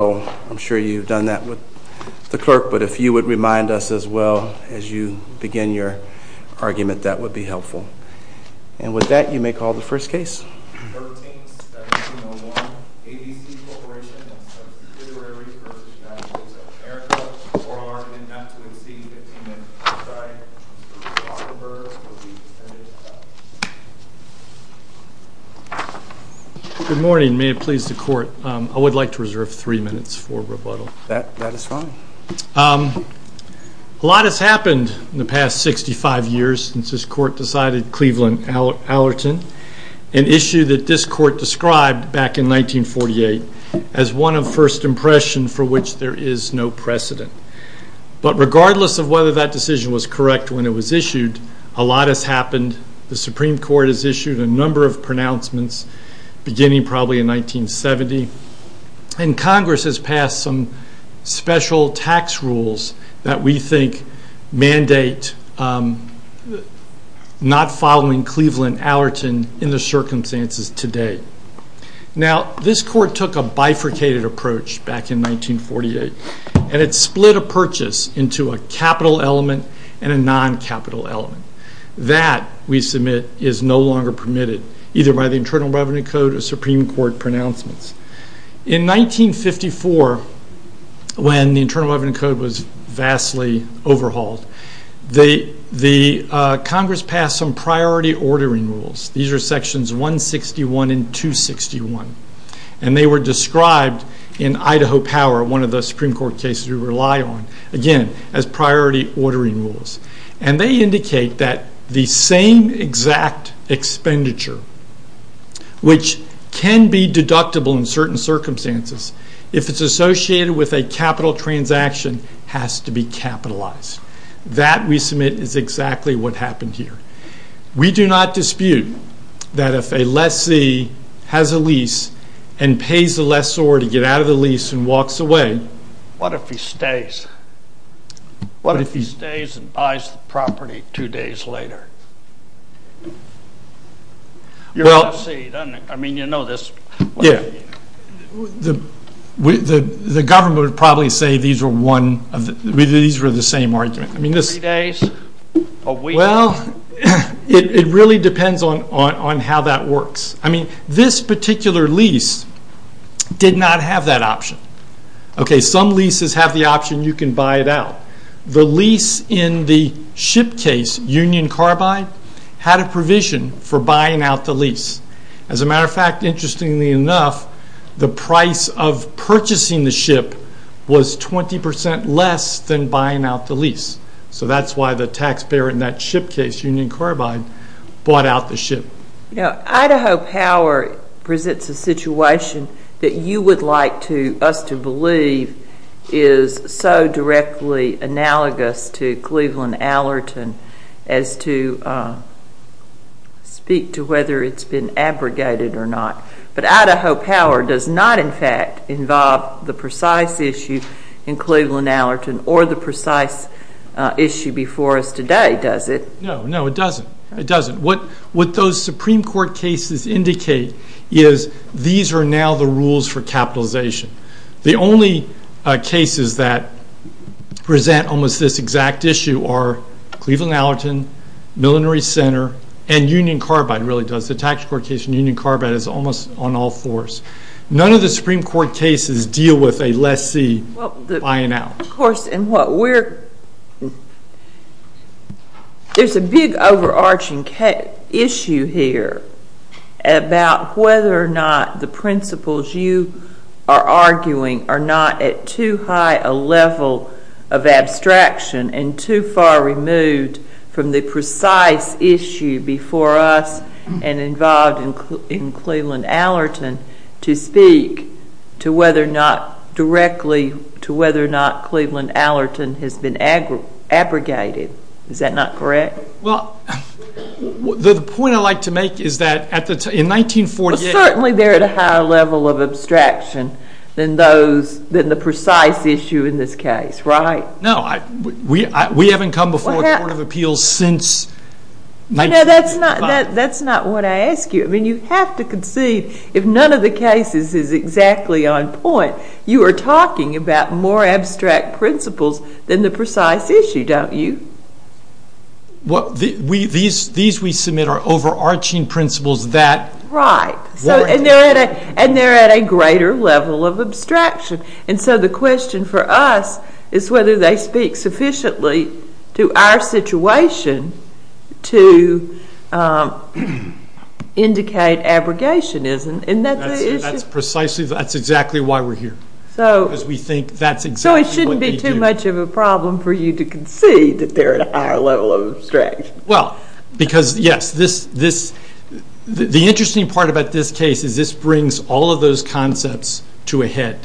So, I'm sure you've done that with the clerk, but if you would remind us as well as you begin your argument, that would be helpful. And with that, you may call the first case. 13-1701, ABC Corporation v. United States of America, oral argument not to exceed 15 minutes. I'm sorry. Good morning. May it please the court, I would like to reserve three minutes for rebuttal. That is fine. A lot has happened in the past 65 years since this court decided Cleveland Allerton, an issue that this court described back in 1948 as one of first impression for which there is no precedent. But regardless of whether that decision was correct when it was issued, a lot has happened. The Supreme Court has issued a number of pronouncements, beginning probably in 1970. And Congress has passed some special tax rules that we think mandate not following Cleveland Allerton in the circumstances today. Now, this court took a bifurcated approach back in 1948, and it split a purchase into a capital element and a non-capital element. That, we submit, is no longer permitted, either by the Internal Revenue Code or Supreme Court pronouncements. In 1954, when the Internal Revenue Code was vastly overhauled, Congress passed some priority ordering rules. These are sections 161 and 261. And they were described in Idaho Power, one of the Supreme Court cases we rely on, again, as priority ordering rules. And they indicate that the same exact expenditure, which can be deductible in certain circumstances, if it's associated with a capital transaction, has to be capitalized. That, we submit, is exactly what happened here. We do not dispute that if a lessee has a lease and pays the lessor to get out of the lease and walks away... What if he stays? What if he stays and buys the property two days later? You're a lessee, don't you? I mean, you know this. The government would probably say these were the same argument. Three days? A week? Well, it really depends on how that works. I mean, this particular lease did not have that option. Some leases have the option you can buy it out. The lease in the ship case, Union Carbide, had a provision for buying out the lease. As a matter of fact, interestingly enough, the price of purchasing the ship was 20% less than buying out the lease. So that's why the taxpayer in that ship case, Union Carbide, bought out the ship. Idaho Power presents a situation that you would like us to believe is so directly analogous to Cleveland Allerton as to speak to whether it's been abrogated or not. But Idaho Power does not, in fact, involve the precise issue in Cleveland Allerton or the precise issue before us today, does it? No, no, it doesn't. It doesn't. What those Supreme Court cases indicate is these are now the rules for capitalization. The only cases that present almost this exact issue are Cleveland Allerton, Millinery Center, and Union Carbide really does. The tax court case in Union Carbide is almost on all fours. None of the Supreme Court cases deal with a lessee buying out. Of course, and what we're – there's a big overarching issue here about whether or not the principles you are arguing are not at too high a level of abstraction and too far removed from the precise issue before us and involved in Cleveland Allerton to speak to whether or not – directly to whether or not Cleveland Allerton has been abrogated. Is that not correct? Well, the point I'd like to make is that in 1948 – than the precise issue in this case, right? No, we haven't come before the Court of Appeals since – No, that's not what I ask you. I mean, you have to concede if none of the cases is exactly on point, you are talking about more abstract principles than the precise issue, don't you? Well, these we submit are overarching principles that – Right. And they're at a greater level of abstraction. And so the question for us is whether they speak sufficiently to our situation to indicate abrogationism. That's precisely – that's exactly why we're here. Because we think that's exactly what we do. So it shouldn't be too much of a problem for you to concede that they're at a higher level of abstraction. Well, because, yes, this – the interesting part about this case is this brings all of those concepts to a head.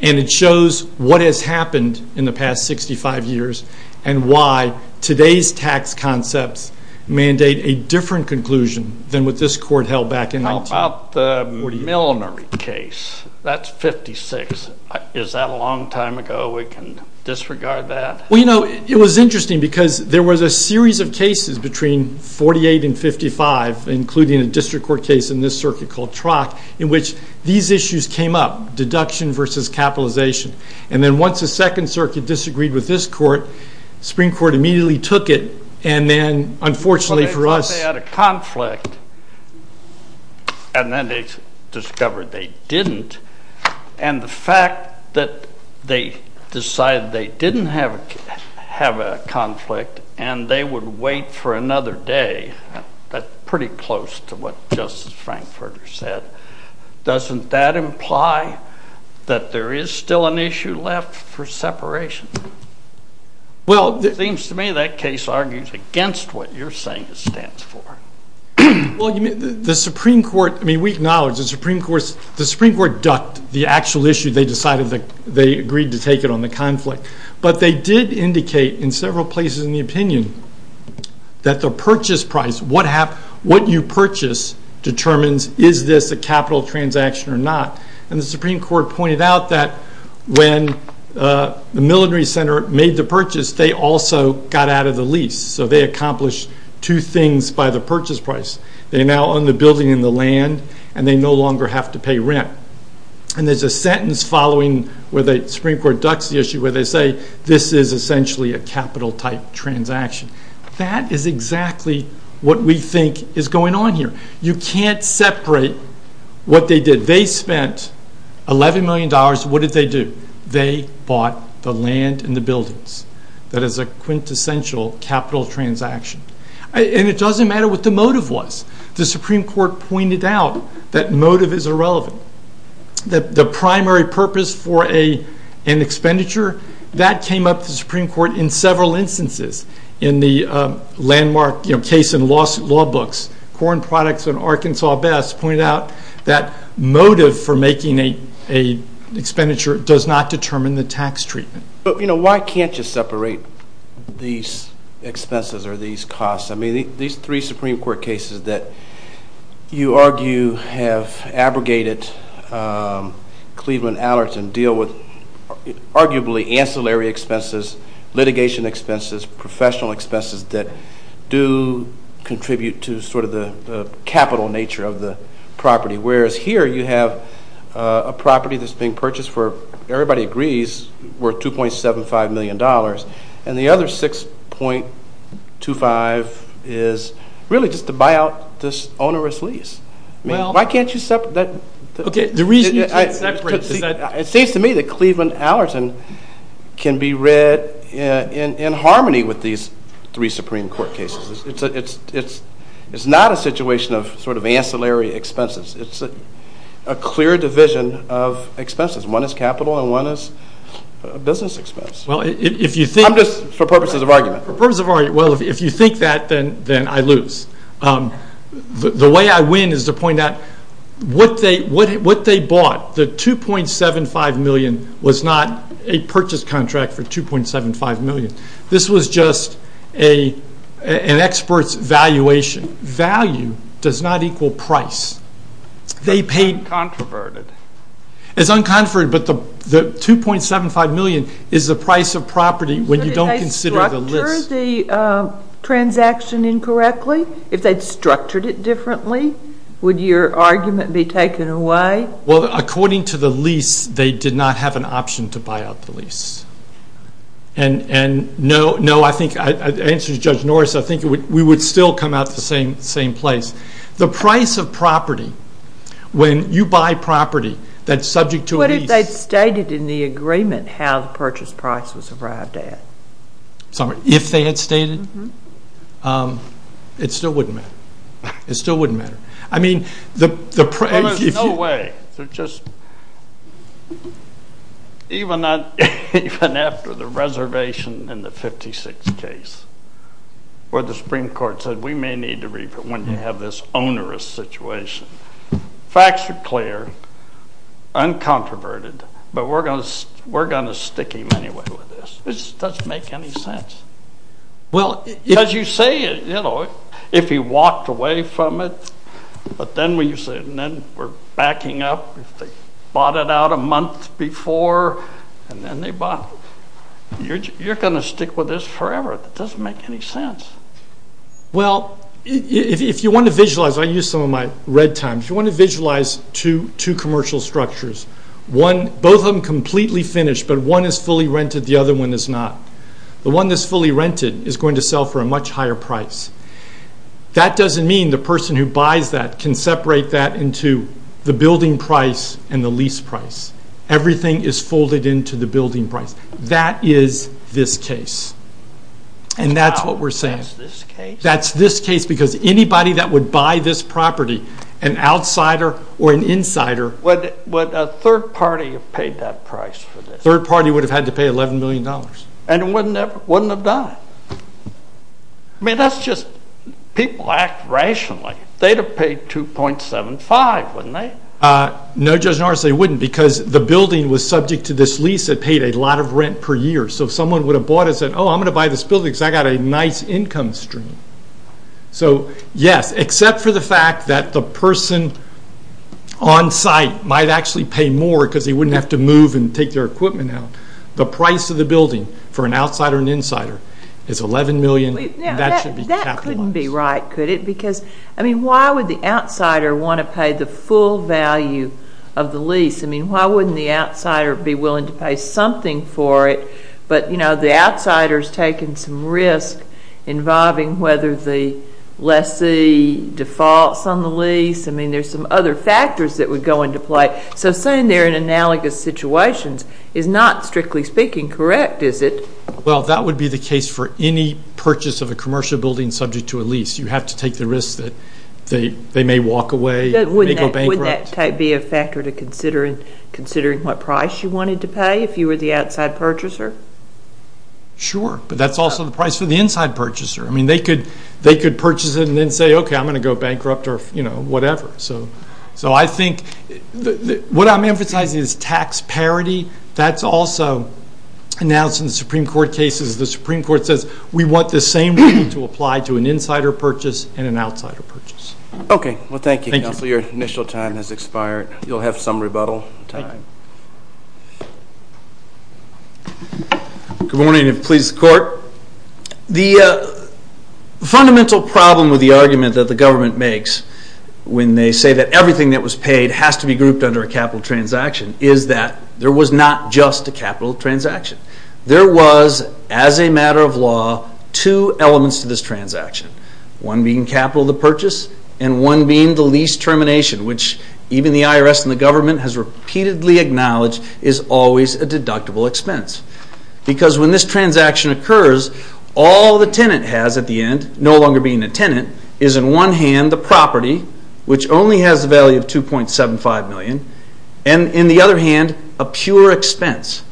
And it shows what has happened in the past 65 years and why today's tax concepts mandate a different conclusion than what this court held back in 1948. How about the Milnery case? That's 56. Is that a long time ago? We can disregard that? Well, you know, it was interesting because there was a series of cases between 48 and 55, including a district court case in this circuit called Trock, in which these issues came up, deduction versus capitalization. And then once the Second Circuit disagreed with this court, the Supreme Court immediately took it. And then, unfortunately for us – And then they discovered they didn't. And the fact that they decided they didn't have a conflict and they would wait for another day, that's pretty close to what Justice Frankfurter said. Doesn't that imply that there is still an issue left for separation? Well – It seems to me that case argues against what you're saying it stands for. Well, the Supreme Court – I mean, we acknowledge the Supreme Court ducked the actual issue. They decided that they agreed to take it on the conflict. But they did indicate in several places in the opinion that the purchase price, what you purchase, determines is this a capital transaction or not. And the Supreme Court pointed out that when the Milnery Center made the purchase, they also got out of the lease. So they accomplished two things by the purchase price. They now own the building and the land and they no longer have to pay rent. And there's a sentence following where the Supreme Court ducks the issue where they say this is essentially a capital type transaction. That is exactly what we think is going on here. You can't separate what they did. They spent $11 million. What did they do? They bought the land and the buildings. That is a quintessential capital transaction. And it doesn't matter what the motive was. The Supreme Court pointed out that motive is irrelevant. The primary purpose for an expenditure, that came up to the Supreme Court in several instances. In the landmark case in law books, Corn Products and Arkansas Best pointed out that motive for making an expenditure does not determine the tax treatment. But, you know, why can't you separate these expenses or these costs? I mean, these three Supreme Court cases that you argue have abrogated Cleveland Allerton deal with arguably ancillary expenses, litigation expenses, professional expenses that do contribute to sort of the capital nature of the property. Whereas here you have a property that's being purchased for, everybody agrees, worth $2.75 million. And the other $6.25 million is really just to buy out this onerous lease. I mean, why can't you separate that? Okay, the reason you can't separate is that... It seems to me that Cleveland Allerton can be read in harmony with these three Supreme Court cases. It's not a situation of sort of ancillary expenses. It's a clear division of expenses. One is capital and one is business expense. I'm just for purposes of argument. For purposes of argument, well, if you think that, then I lose. The way I win is to point out what they bought, the $2.75 million, was not a purchase contract for $2.75 million. This was just an expert's valuation. Value does not equal price. It's uncontroverted. It's uncontroverted, but the $2.75 million is the price of property when you don't consider the list. Shouldn't they structure the transaction incorrectly? If they'd structured it differently, would your argument be taken away? Well, according to the lease, they did not have an option to buy out the lease. The answer is Judge Norris. I think we would still come out the same place. The price of property, when you buy property that's subject to a lease. What if they'd stated in the agreement how the purchase price was arrived at? If they had stated it, it still wouldn't matter. It still wouldn't matter. There's no way. Even after the reservation in the 56 case, where the Supreme Court said, we may need to review it when you have this onerous situation. Facts are clear, uncontroverted, but we're going to stick him anyway with this. It just doesn't make any sense. As you say, if he walked away from it, but then we're backing up. If they bought it out a month before, and then they bought it. You're going to stick with this forever. It doesn't make any sense. Well, if you want to visualize, I use some of my red times. If you want to visualize two commercial structures, both of them completely finished, but one is fully rented, the other one is not. The one that's fully rented is going to sell for a much higher price. That doesn't mean the person who buys that can separate that into the building price and the lease price. Everything is folded into the building price. That is this case. And that's what we're saying. That's this case because anybody that would buy this property, an outsider or an insider. Would a third party have paid that price for this? A third party would have had to pay $11 million. And wouldn't have died. I mean, that's just, people act rationally. They'd have paid $2.75, wouldn't they? No, Judge Norris, they wouldn't because the building was subject to this lease. It paid a lot of rent per year. So someone would have bought it and said, oh, I'm going to buy this building because I got a nice income stream. So, yes, except for the fact that the person on site might actually pay more because they wouldn't have to move and take their equipment out. The price of the building for an outsider and insider is $11 million. That shouldn't be capitalized. That couldn't be right, could it? Because, I mean, why would the outsider want to pay the full value of the lease? I mean, why wouldn't the outsider be willing to pay something for it? But, you know, the outsider is taking some risk involving whether the lessee defaults on the lease. I mean, there's some other factors that would go into play. So saying they're in analogous situations is not, strictly speaking, correct, is it? Well, that would be the case for any purchase of a commercial building subject to a lease. You have to take the risk that they may walk away, they may go bankrupt. Wouldn't that be a factor to consider in considering what price you wanted to pay if you were the outside purchaser? Sure, but that's also the price for the inside purchaser. I mean, they could purchase it and then say, okay, I'm going to go bankrupt or, you know, whatever. So I think what I'm emphasizing is tax parity. That's also announced in the Supreme Court cases. The Supreme Court says we want the same rule to apply to an insider purchase and an outsider purchase. Okay, well, thank you, Counselor. Your initial time has expired. You'll have some rebuttal time. Good morning, if it pleases the Court. The fundamental problem with the argument that the government makes when they say that everything that was paid has to be grouped under a capital transaction is that there was not just a capital transaction. There was, as a matter of law, two elements to this transaction, one being capital of the purchase and one being the lease termination, which even the IRS and the government has repeatedly acknowledged is always a deductible expense. Because when this transaction occurs, all the tenant has at the end, no longer being a tenant, is in one hand the property, which only has the value of $2.75 million, and in the other hand, a pure expense.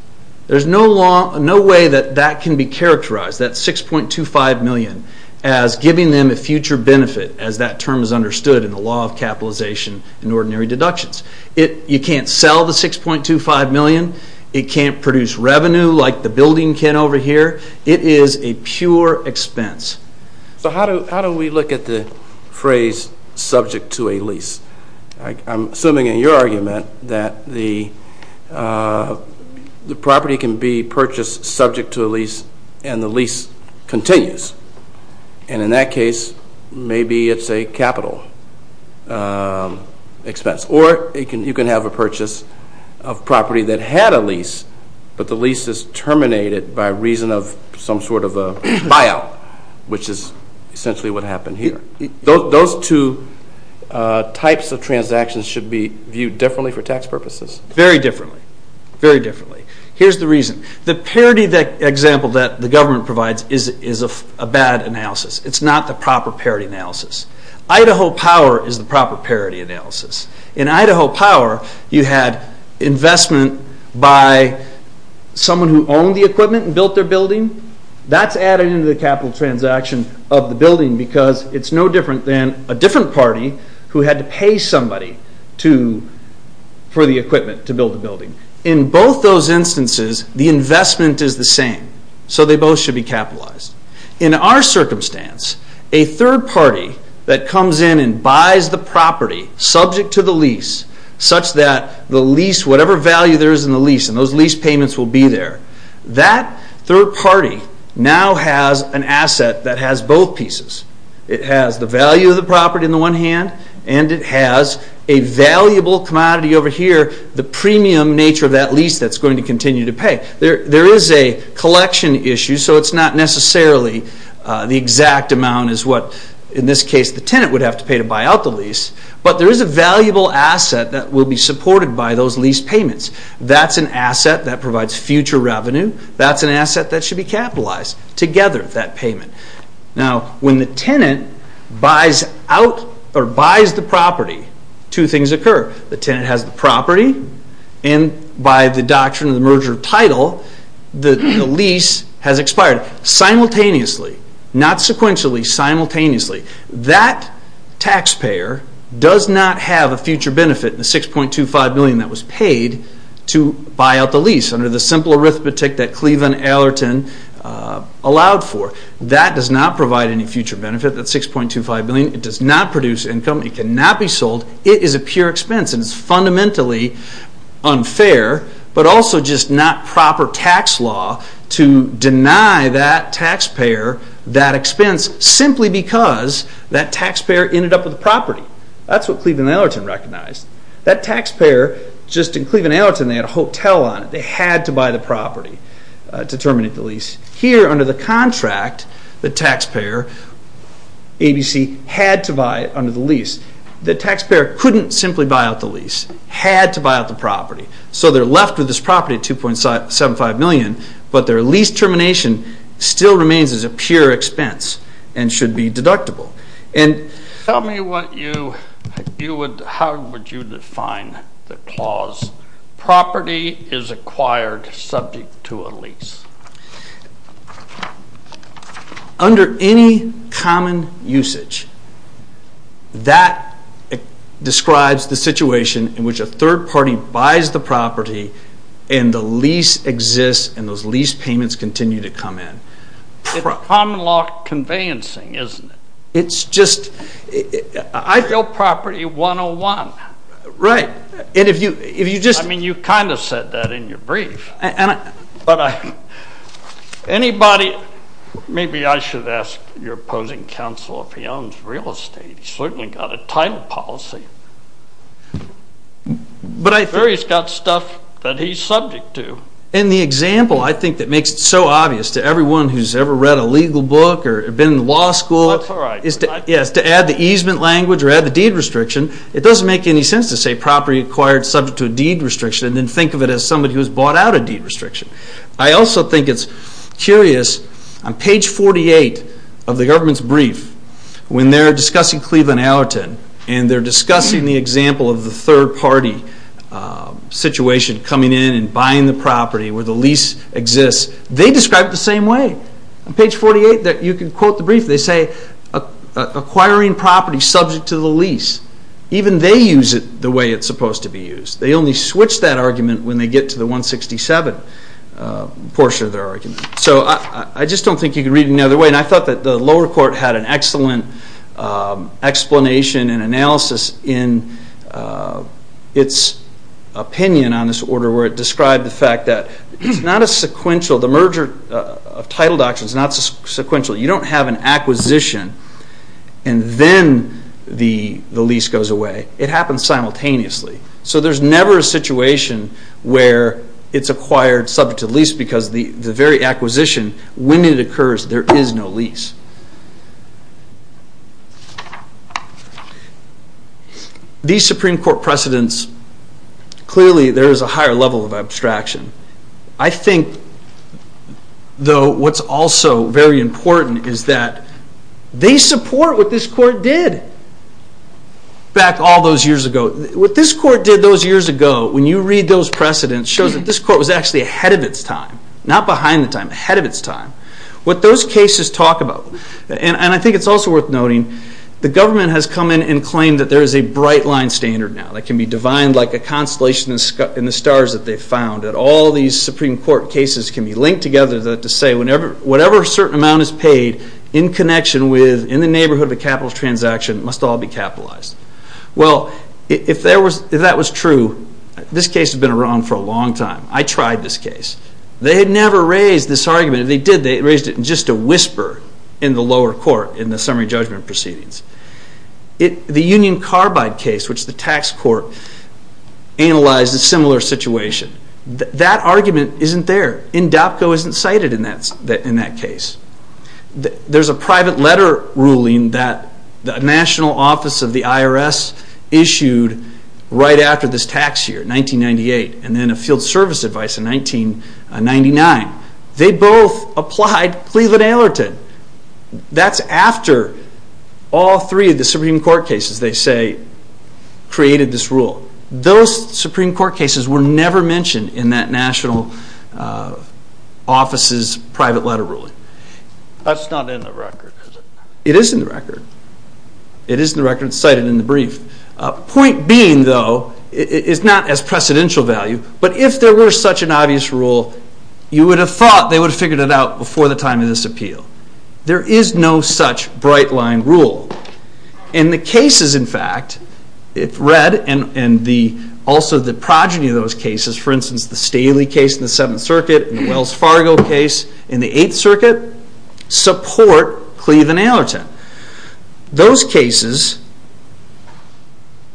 There's no way that that can be characterized, that $6.25 million, as giving them a future benefit as that term is understood in the law of capitalization and ordinary deductions. You can't sell the $6.25 million. It can't produce revenue like the building can over here. It is a pure expense. So how do we look at the phrase subject to a lease? I'm assuming in your argument that the property can be purchased subject to a lease and the lease continues. And in that case, maybe it's a capital expense. Or you can have a purchase of property that had a lease, but the lease is terminated by reason of some sort of a buyout, which is essentially what happened here. Those two types of transactions should be viewed differently for tax purposes. Very differently. Very differently. Here's the reason. The parity example that the government provides is a bad analysis. It's not the proper parity analysis. Idaho Power is the proper parity analysis. In Idaho Power, you had investment by someone who owned the equipment and built their building. That's added into the capital transaction of the building because it's no different than a different party who had to pay somebody for the equipment to build the building. In both those instances, the investment is the same. So they both should be capitalized. In our circumstance, a third party that comes in and buys the property subject to the lease, such that the lease, whatever value there is in the lease, and those lease payments will be there, that third party now has an asset that has both pieces. It has the value of the property on the one hand, and it has a valuable commodity over here, There is a collection issue, so it's not necessarily the exact amount is what, in this case, the tenant would have to pay to buy out the lease, but there is a valuable asset that will be supported by those lease payments. That's an asset that provides future revenue. That's an asset that should be capitalized. Together, that payment. When the tenant buys the property, two things occur. The tenant has the property, and by the doctrine of the merger of title, the lease has expired simultaneously. Not sequentially, simultaneously. That taxpayer does not have a future benefit, the $6.25 billion that was paid to buy out the lease, under the simple arithmetic that Cleveland Allerton allowed for. That does not provide any future benefit, that $6.25 billion. It does not produce income. It cannot be sold. It is a pure expense, and it's fundamentally unfair, but also just not proper tax law to deny that taxpayer that expense, simply because that taxpayer ended up with the property. That's what Cleveland Allerton recognized. That taxpayer, just in Cleveland Allerton, they had a hotel on it. They had to buy the property to terminate the lease. Here, under the contract, the taxpayer, ABC, had to buy under the lease. The taxpayer couldn't simply buy out the lease. Had to buy out the property. So they're left with this property, $2.75 million, but their lease termination still remains as a pure expense and should be deductible. Tell me how would you define the clause, property is acquired subject to a lease. Under any common usage, that describes the situation in which a third party buys the property and the lease exists and those lease payments continue to come in. It's common law conveyancing, isn't it? It's just... I built property 101. Right. I mean, you kind of said that in your brief. But anybody... Maybe I should ask your opposing counsel if he owns real estate. He's certainly got a title policy. But I think... He's got stuff that he's subject to. And the example, I think, that makes it so obvious to everyone who's ever read a legal book or been in law school... That's all right. ...is to add the easement language or add the deed restriction. It doesn't make any sense to say property acquired subject to a deed restriction and then think of it as somebody who's bought out a deed restriction. I also think it's curious, on page 48 of the government's brief, when they're discussing Cleveland Allerton and they're discussing the example of the third party situation coming in and buying the property where the lease exists, they describe it the same way. On page 48, you can quote the brief. They say, acquiring property subject to the lease. Even they use it the way it's supposed to be used. They only switch that argument when they get to the 167 portion of their argument. So I just don't think you can read it any other way. And I thought that the lower court had an excellent explanation and analysis in its opinion on this order where it described the fact that it's not a sequential... The merger of title documents is not sequential. You don't have an acquisition and then the lease goes away. It happens simultaneously. So there's never a situation where it's acquired subject to the lease because the very acquisition, when it occurs, there is no lease. These Supreme Court precedents, clearly there is a higher level of abstraction. I think, though, what's also very important is that they support what this court did back all those years ago. What this court did those years ago, when you read those precedents, shows that this court was actually ahead of its time. Not behind the time, ahead of its time. What those cases talk about, and I think it's also worth noting, the government has come in and claimed that there is a bright line standard now that can be divined like a constellation in the stars that they've found, that all these Supreme Court cases can be linked together to say whatever certain amount is paid in connection with, in the neighborhood of a capital transaction, must all be capitalized. Well, if that was true, this case has been around for a long time. I tried this case. They had never raised this argument. If they did, they raised it in just a whisper in the lower court, in the summary judgment proceedings. The Union Carbide case, which the tax court analyzed a similar situation, that argument isn't there. INDAPCO isn't cited in that case. There's a private letter ruling that the National Office of the IRS issued right after this tax year, 1998, and then a field service advice in 1999. They both applied Cleveland-Aylerton. That's after all three of the Supreme Court cases, they say, created this rule. Those Supreme Court cases were never mentioned in that national office's private letter ruling. That's not in the record, is it? It is in the record. It is in the record. It's cited in the brief. Point being, though, it's not as precedential value, but if there were such an obvious rule, you would have thought they would have figured it out before the time of this appeal. There is no such bright-line rule. In the cases, in fact, it's read, and also the progeny of those cases, for instance, the Staley case in the Seventh Circuit, and the Wells Fargo case in the Eighth Circuit, support Cleveland-Aylerton. Those cases,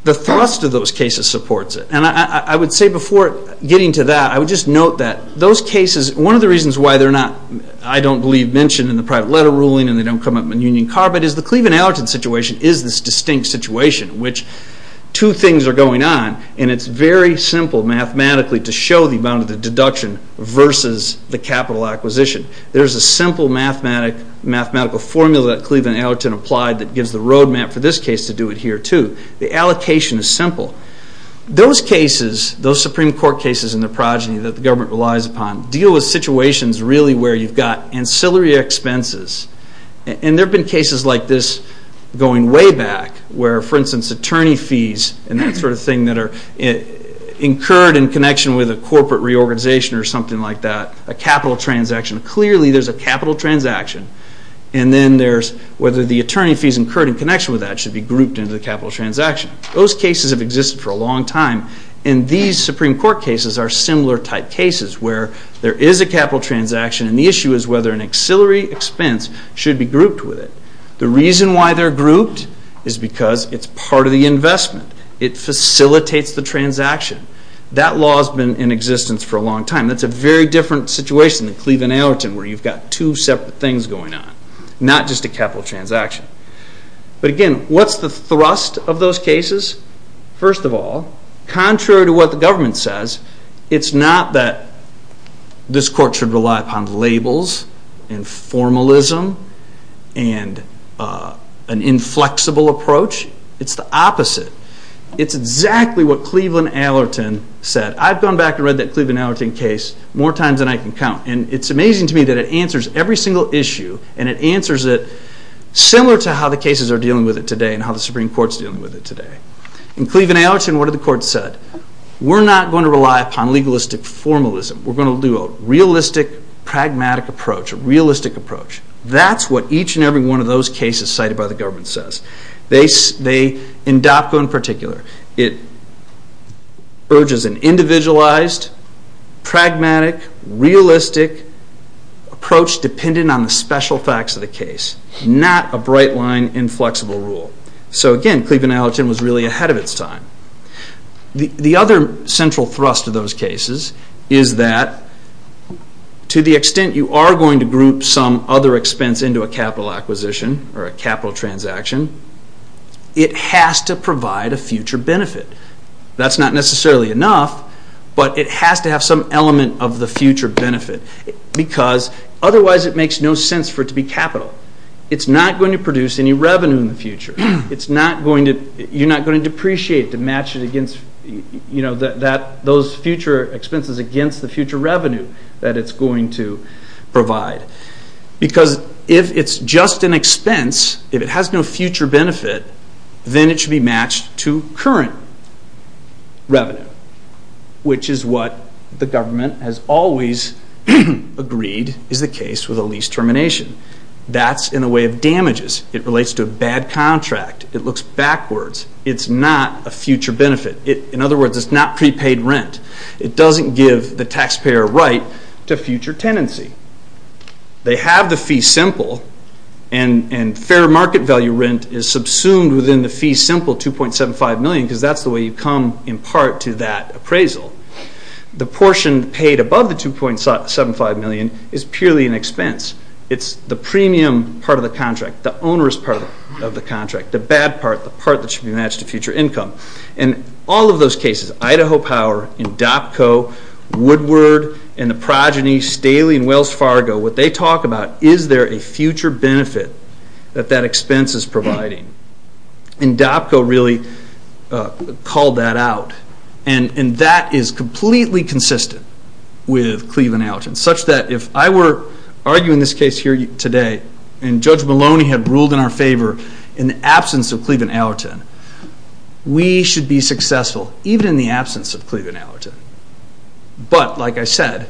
the thrust of those cases supports it. I would say before getting to that, I would just note that those cases, one of the reasons why they're not, I don't believe, mentioned in the private letter ruling, and they don't come up in Union Carbide, is the Cleveland-Aylerton situation is this distinct situation in which two things are going on. It's very simple mathematically to show the amount of the deduction versus the capital acquisition. There's a simple mathematical formula that Cleveland-Aylerton applied that gives the roadmap for this case to do it here, too. The allocation is simple. Those cases, those Supreme Court cases and their progeny that the government relies upon, deal with situations really where you've got ancillary expenses. There have been cases like this going way back where, for instance, attorney fees and that sort of thing that are incurred in connection with a corporate reorganization or something like that, a capital transaction. Clearly, there's a capital transaction, and then there's whether the attorney fees incurred in connection with that should be grouped into the capital transaction. Those cases have existed for a long time, and these Supreme Court cases are similar type cases where there is a capital transaction, and the issue is whether an ancillary expense should be grouped with it. The reason why they're grouped is because it's part of the investment. It facilitates the transaction. That law has been in existence for a long time. That's a very different situation than Cleveland-Aylerton where you've got two separate things going on, not just a capital transaction. But again, what's the thrust of those cases? First of all, contrary to what the government says, it's not that this court should rely upon labels and formalism and an inflexible approach. It's the opposite. It's exactly what Cleveland-Aylerton said. I've gone back and read that Cleveland-Aylerton case more times than I can count, and it's amazing to me that it answers every single issue, and it answers it similar to how the cases are dealing with it today and how the Supreme Court's dealing with it today. In Cleveland-Aylerton, what did the court said? We're not going to rely upon legalistic formalism. We're going to do a realistic, pragmatic approach, a realistic approach. That's what each and every one of those cases cited by the government says. In DOPCO in particular, it urges an individualized, pragmatic, realistic approach dependent on the special facts of the case, not a bright line inflexible rule. So again, Cleveland-Aylerton was really ahead of its time. The other central thrust of those cases is that to the extent you are going to group some other expense into a capital acquisition or a capital transaction, it has to provide a future benefit. That's not necessarily enough, but it has to have some element of the future benefit because otherwise it makes no sense for it to be capital. You're not going to depreciate to match those future expenses against the future revenue that it's going to provide. Because if it's just an expense, if it has no future benefit, then it should be matched to current revenue, which is what the government has always agreed is the case with a lease termination. That's in the way of damages. It relates to a bad contract. It looks backwards. It's not a future benefit. In other words, it's not prepaid rent. It doesn't give the taxpayer a right to future tenancy. They have the fee simple, and fair market value rent is subsumed within the fee simple, $2.75 million, because that's the way you come in part to that appraisal. The portion paid above the $2.75 million is purely an expense. It's the premium part of the contract. The onerous part of the contract. The bad part. The part that should be matched to future income. In all of those cases, Idaho Power, INDOPCO, Woodward, and the progeny, Staley & Wells Fargo, what they talk about is there a future benefit that that expense is providing. INDOPCO really called that out. And that is completely consistent with Cleveland Allerton, such that if I were arguing this case here today and Judge Maloney had ruled in our favor in the absence of Cleveland Allerton, we should be successful even in the absence of Cleveland Allerton. But, like I said,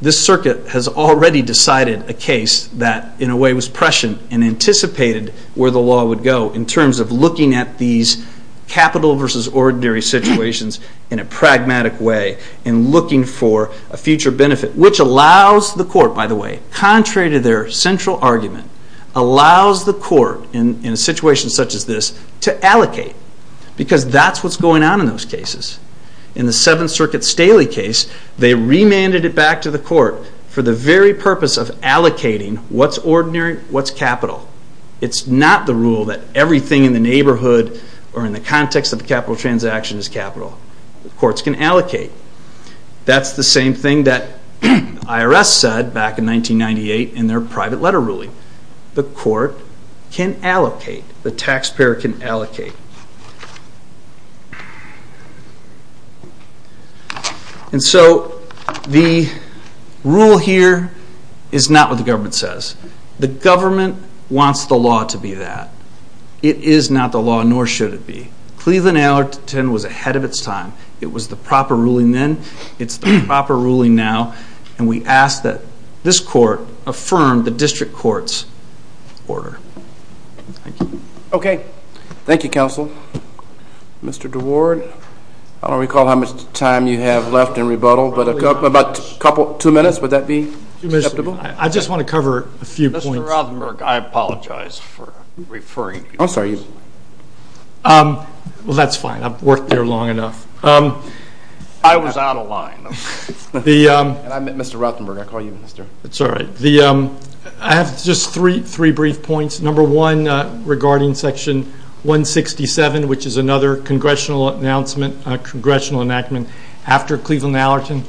this circuit has already decided a case that in a way was prescient and anticipated where the law would go in terms of looking at these capital versus ordinary situations in a pragmatic way and looking for a future benefit. Which allows the court, by the way, contrary to their central argument, allows the court in a situation such as this to allocate. Because that's what's going on in those cases. In the Seventh Circuit Staley case, they remanded it back to the court for the very purpose of allocating what's ordinary, what's capital. It's not the rule that everything in the neighborhood or in the context of the capital transaction is capital. Courts can allocate. That's the same thing that IRS said back in 1998 in their private letter ruling. The court can allocate. The taxpayer can allocate. And so the rule here is not what the government says. The government wants the law to be that. It is not the law, nor should it be. Cleveland Allerton was ahead of its time. It was the proper ruling then. It's the proper ruling now. And we ask that this court affirm the district court's order. Thank you. Okay. Thank you, counsel. Mr. DeWard, I don't recall how much time you have left in rebuttal, but about two minutes. Would that be acceptable? I just want to cover a few points. Mr. Rothenberg, I apologize for referring you. I'm sorry. Well, that's fine. I've worked here long enough. I was out of line. And I meant Mr. Rothenberg. I call you Mr. That's all right. I have just three brief points. Number one, regarding Section 167, which is another congressional announcement, congressional enactment, after Cleveland Allerton.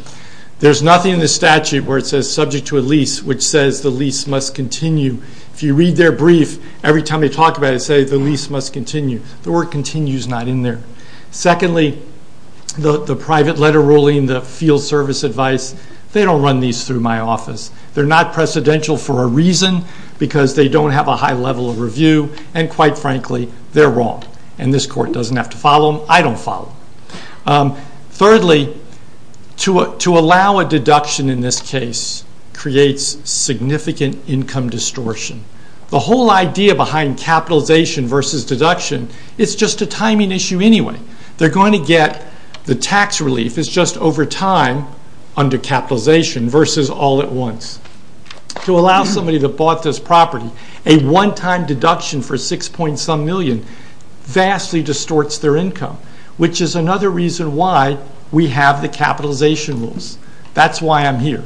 There's nothing in the statute where it says subject to a lease, which says the lease must continue. If you read their brief, every time they talk about it, it says the lease must continue. The word continue is not in there. Secondly, the private letter ruling, the field service advice, they don't run these through my office. They're not precedential for a reason, because they don't have a high level of review, and quite frankly, they're wrong. And this court doesn't have to follow them. I don't follow them. Thirdly, to allow a deduction in this case creates significant income distortion. The whole idea behind capitalization versus deduction, it's just a timing issue anyway. They're going to get the tax relief. It's just over time under capitalization versus all at once. To allow somebody that bought this property a one-time deduction for six point some million vastly distorts their income, which is another reason why we have the capitalization rules. That's why I'm here.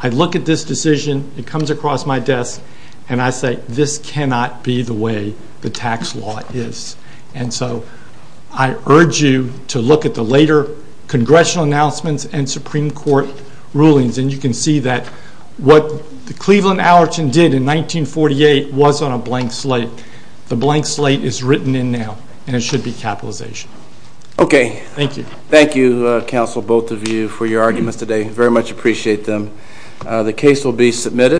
I look at this decision. It comes across my desk, and I say this cannot be the way the tax law is. And so I urge you to look at the later congressional announcements and Supreme Court rulings, and you can see that what the Cleveland Allerton did in 1948 was on a blank slate. The blank slate is written in now, and it should be capitalization. Okay. Thank you. Thank you, counsel, both of you, for your arguments today. Very much appreciate them. The case will be submitted.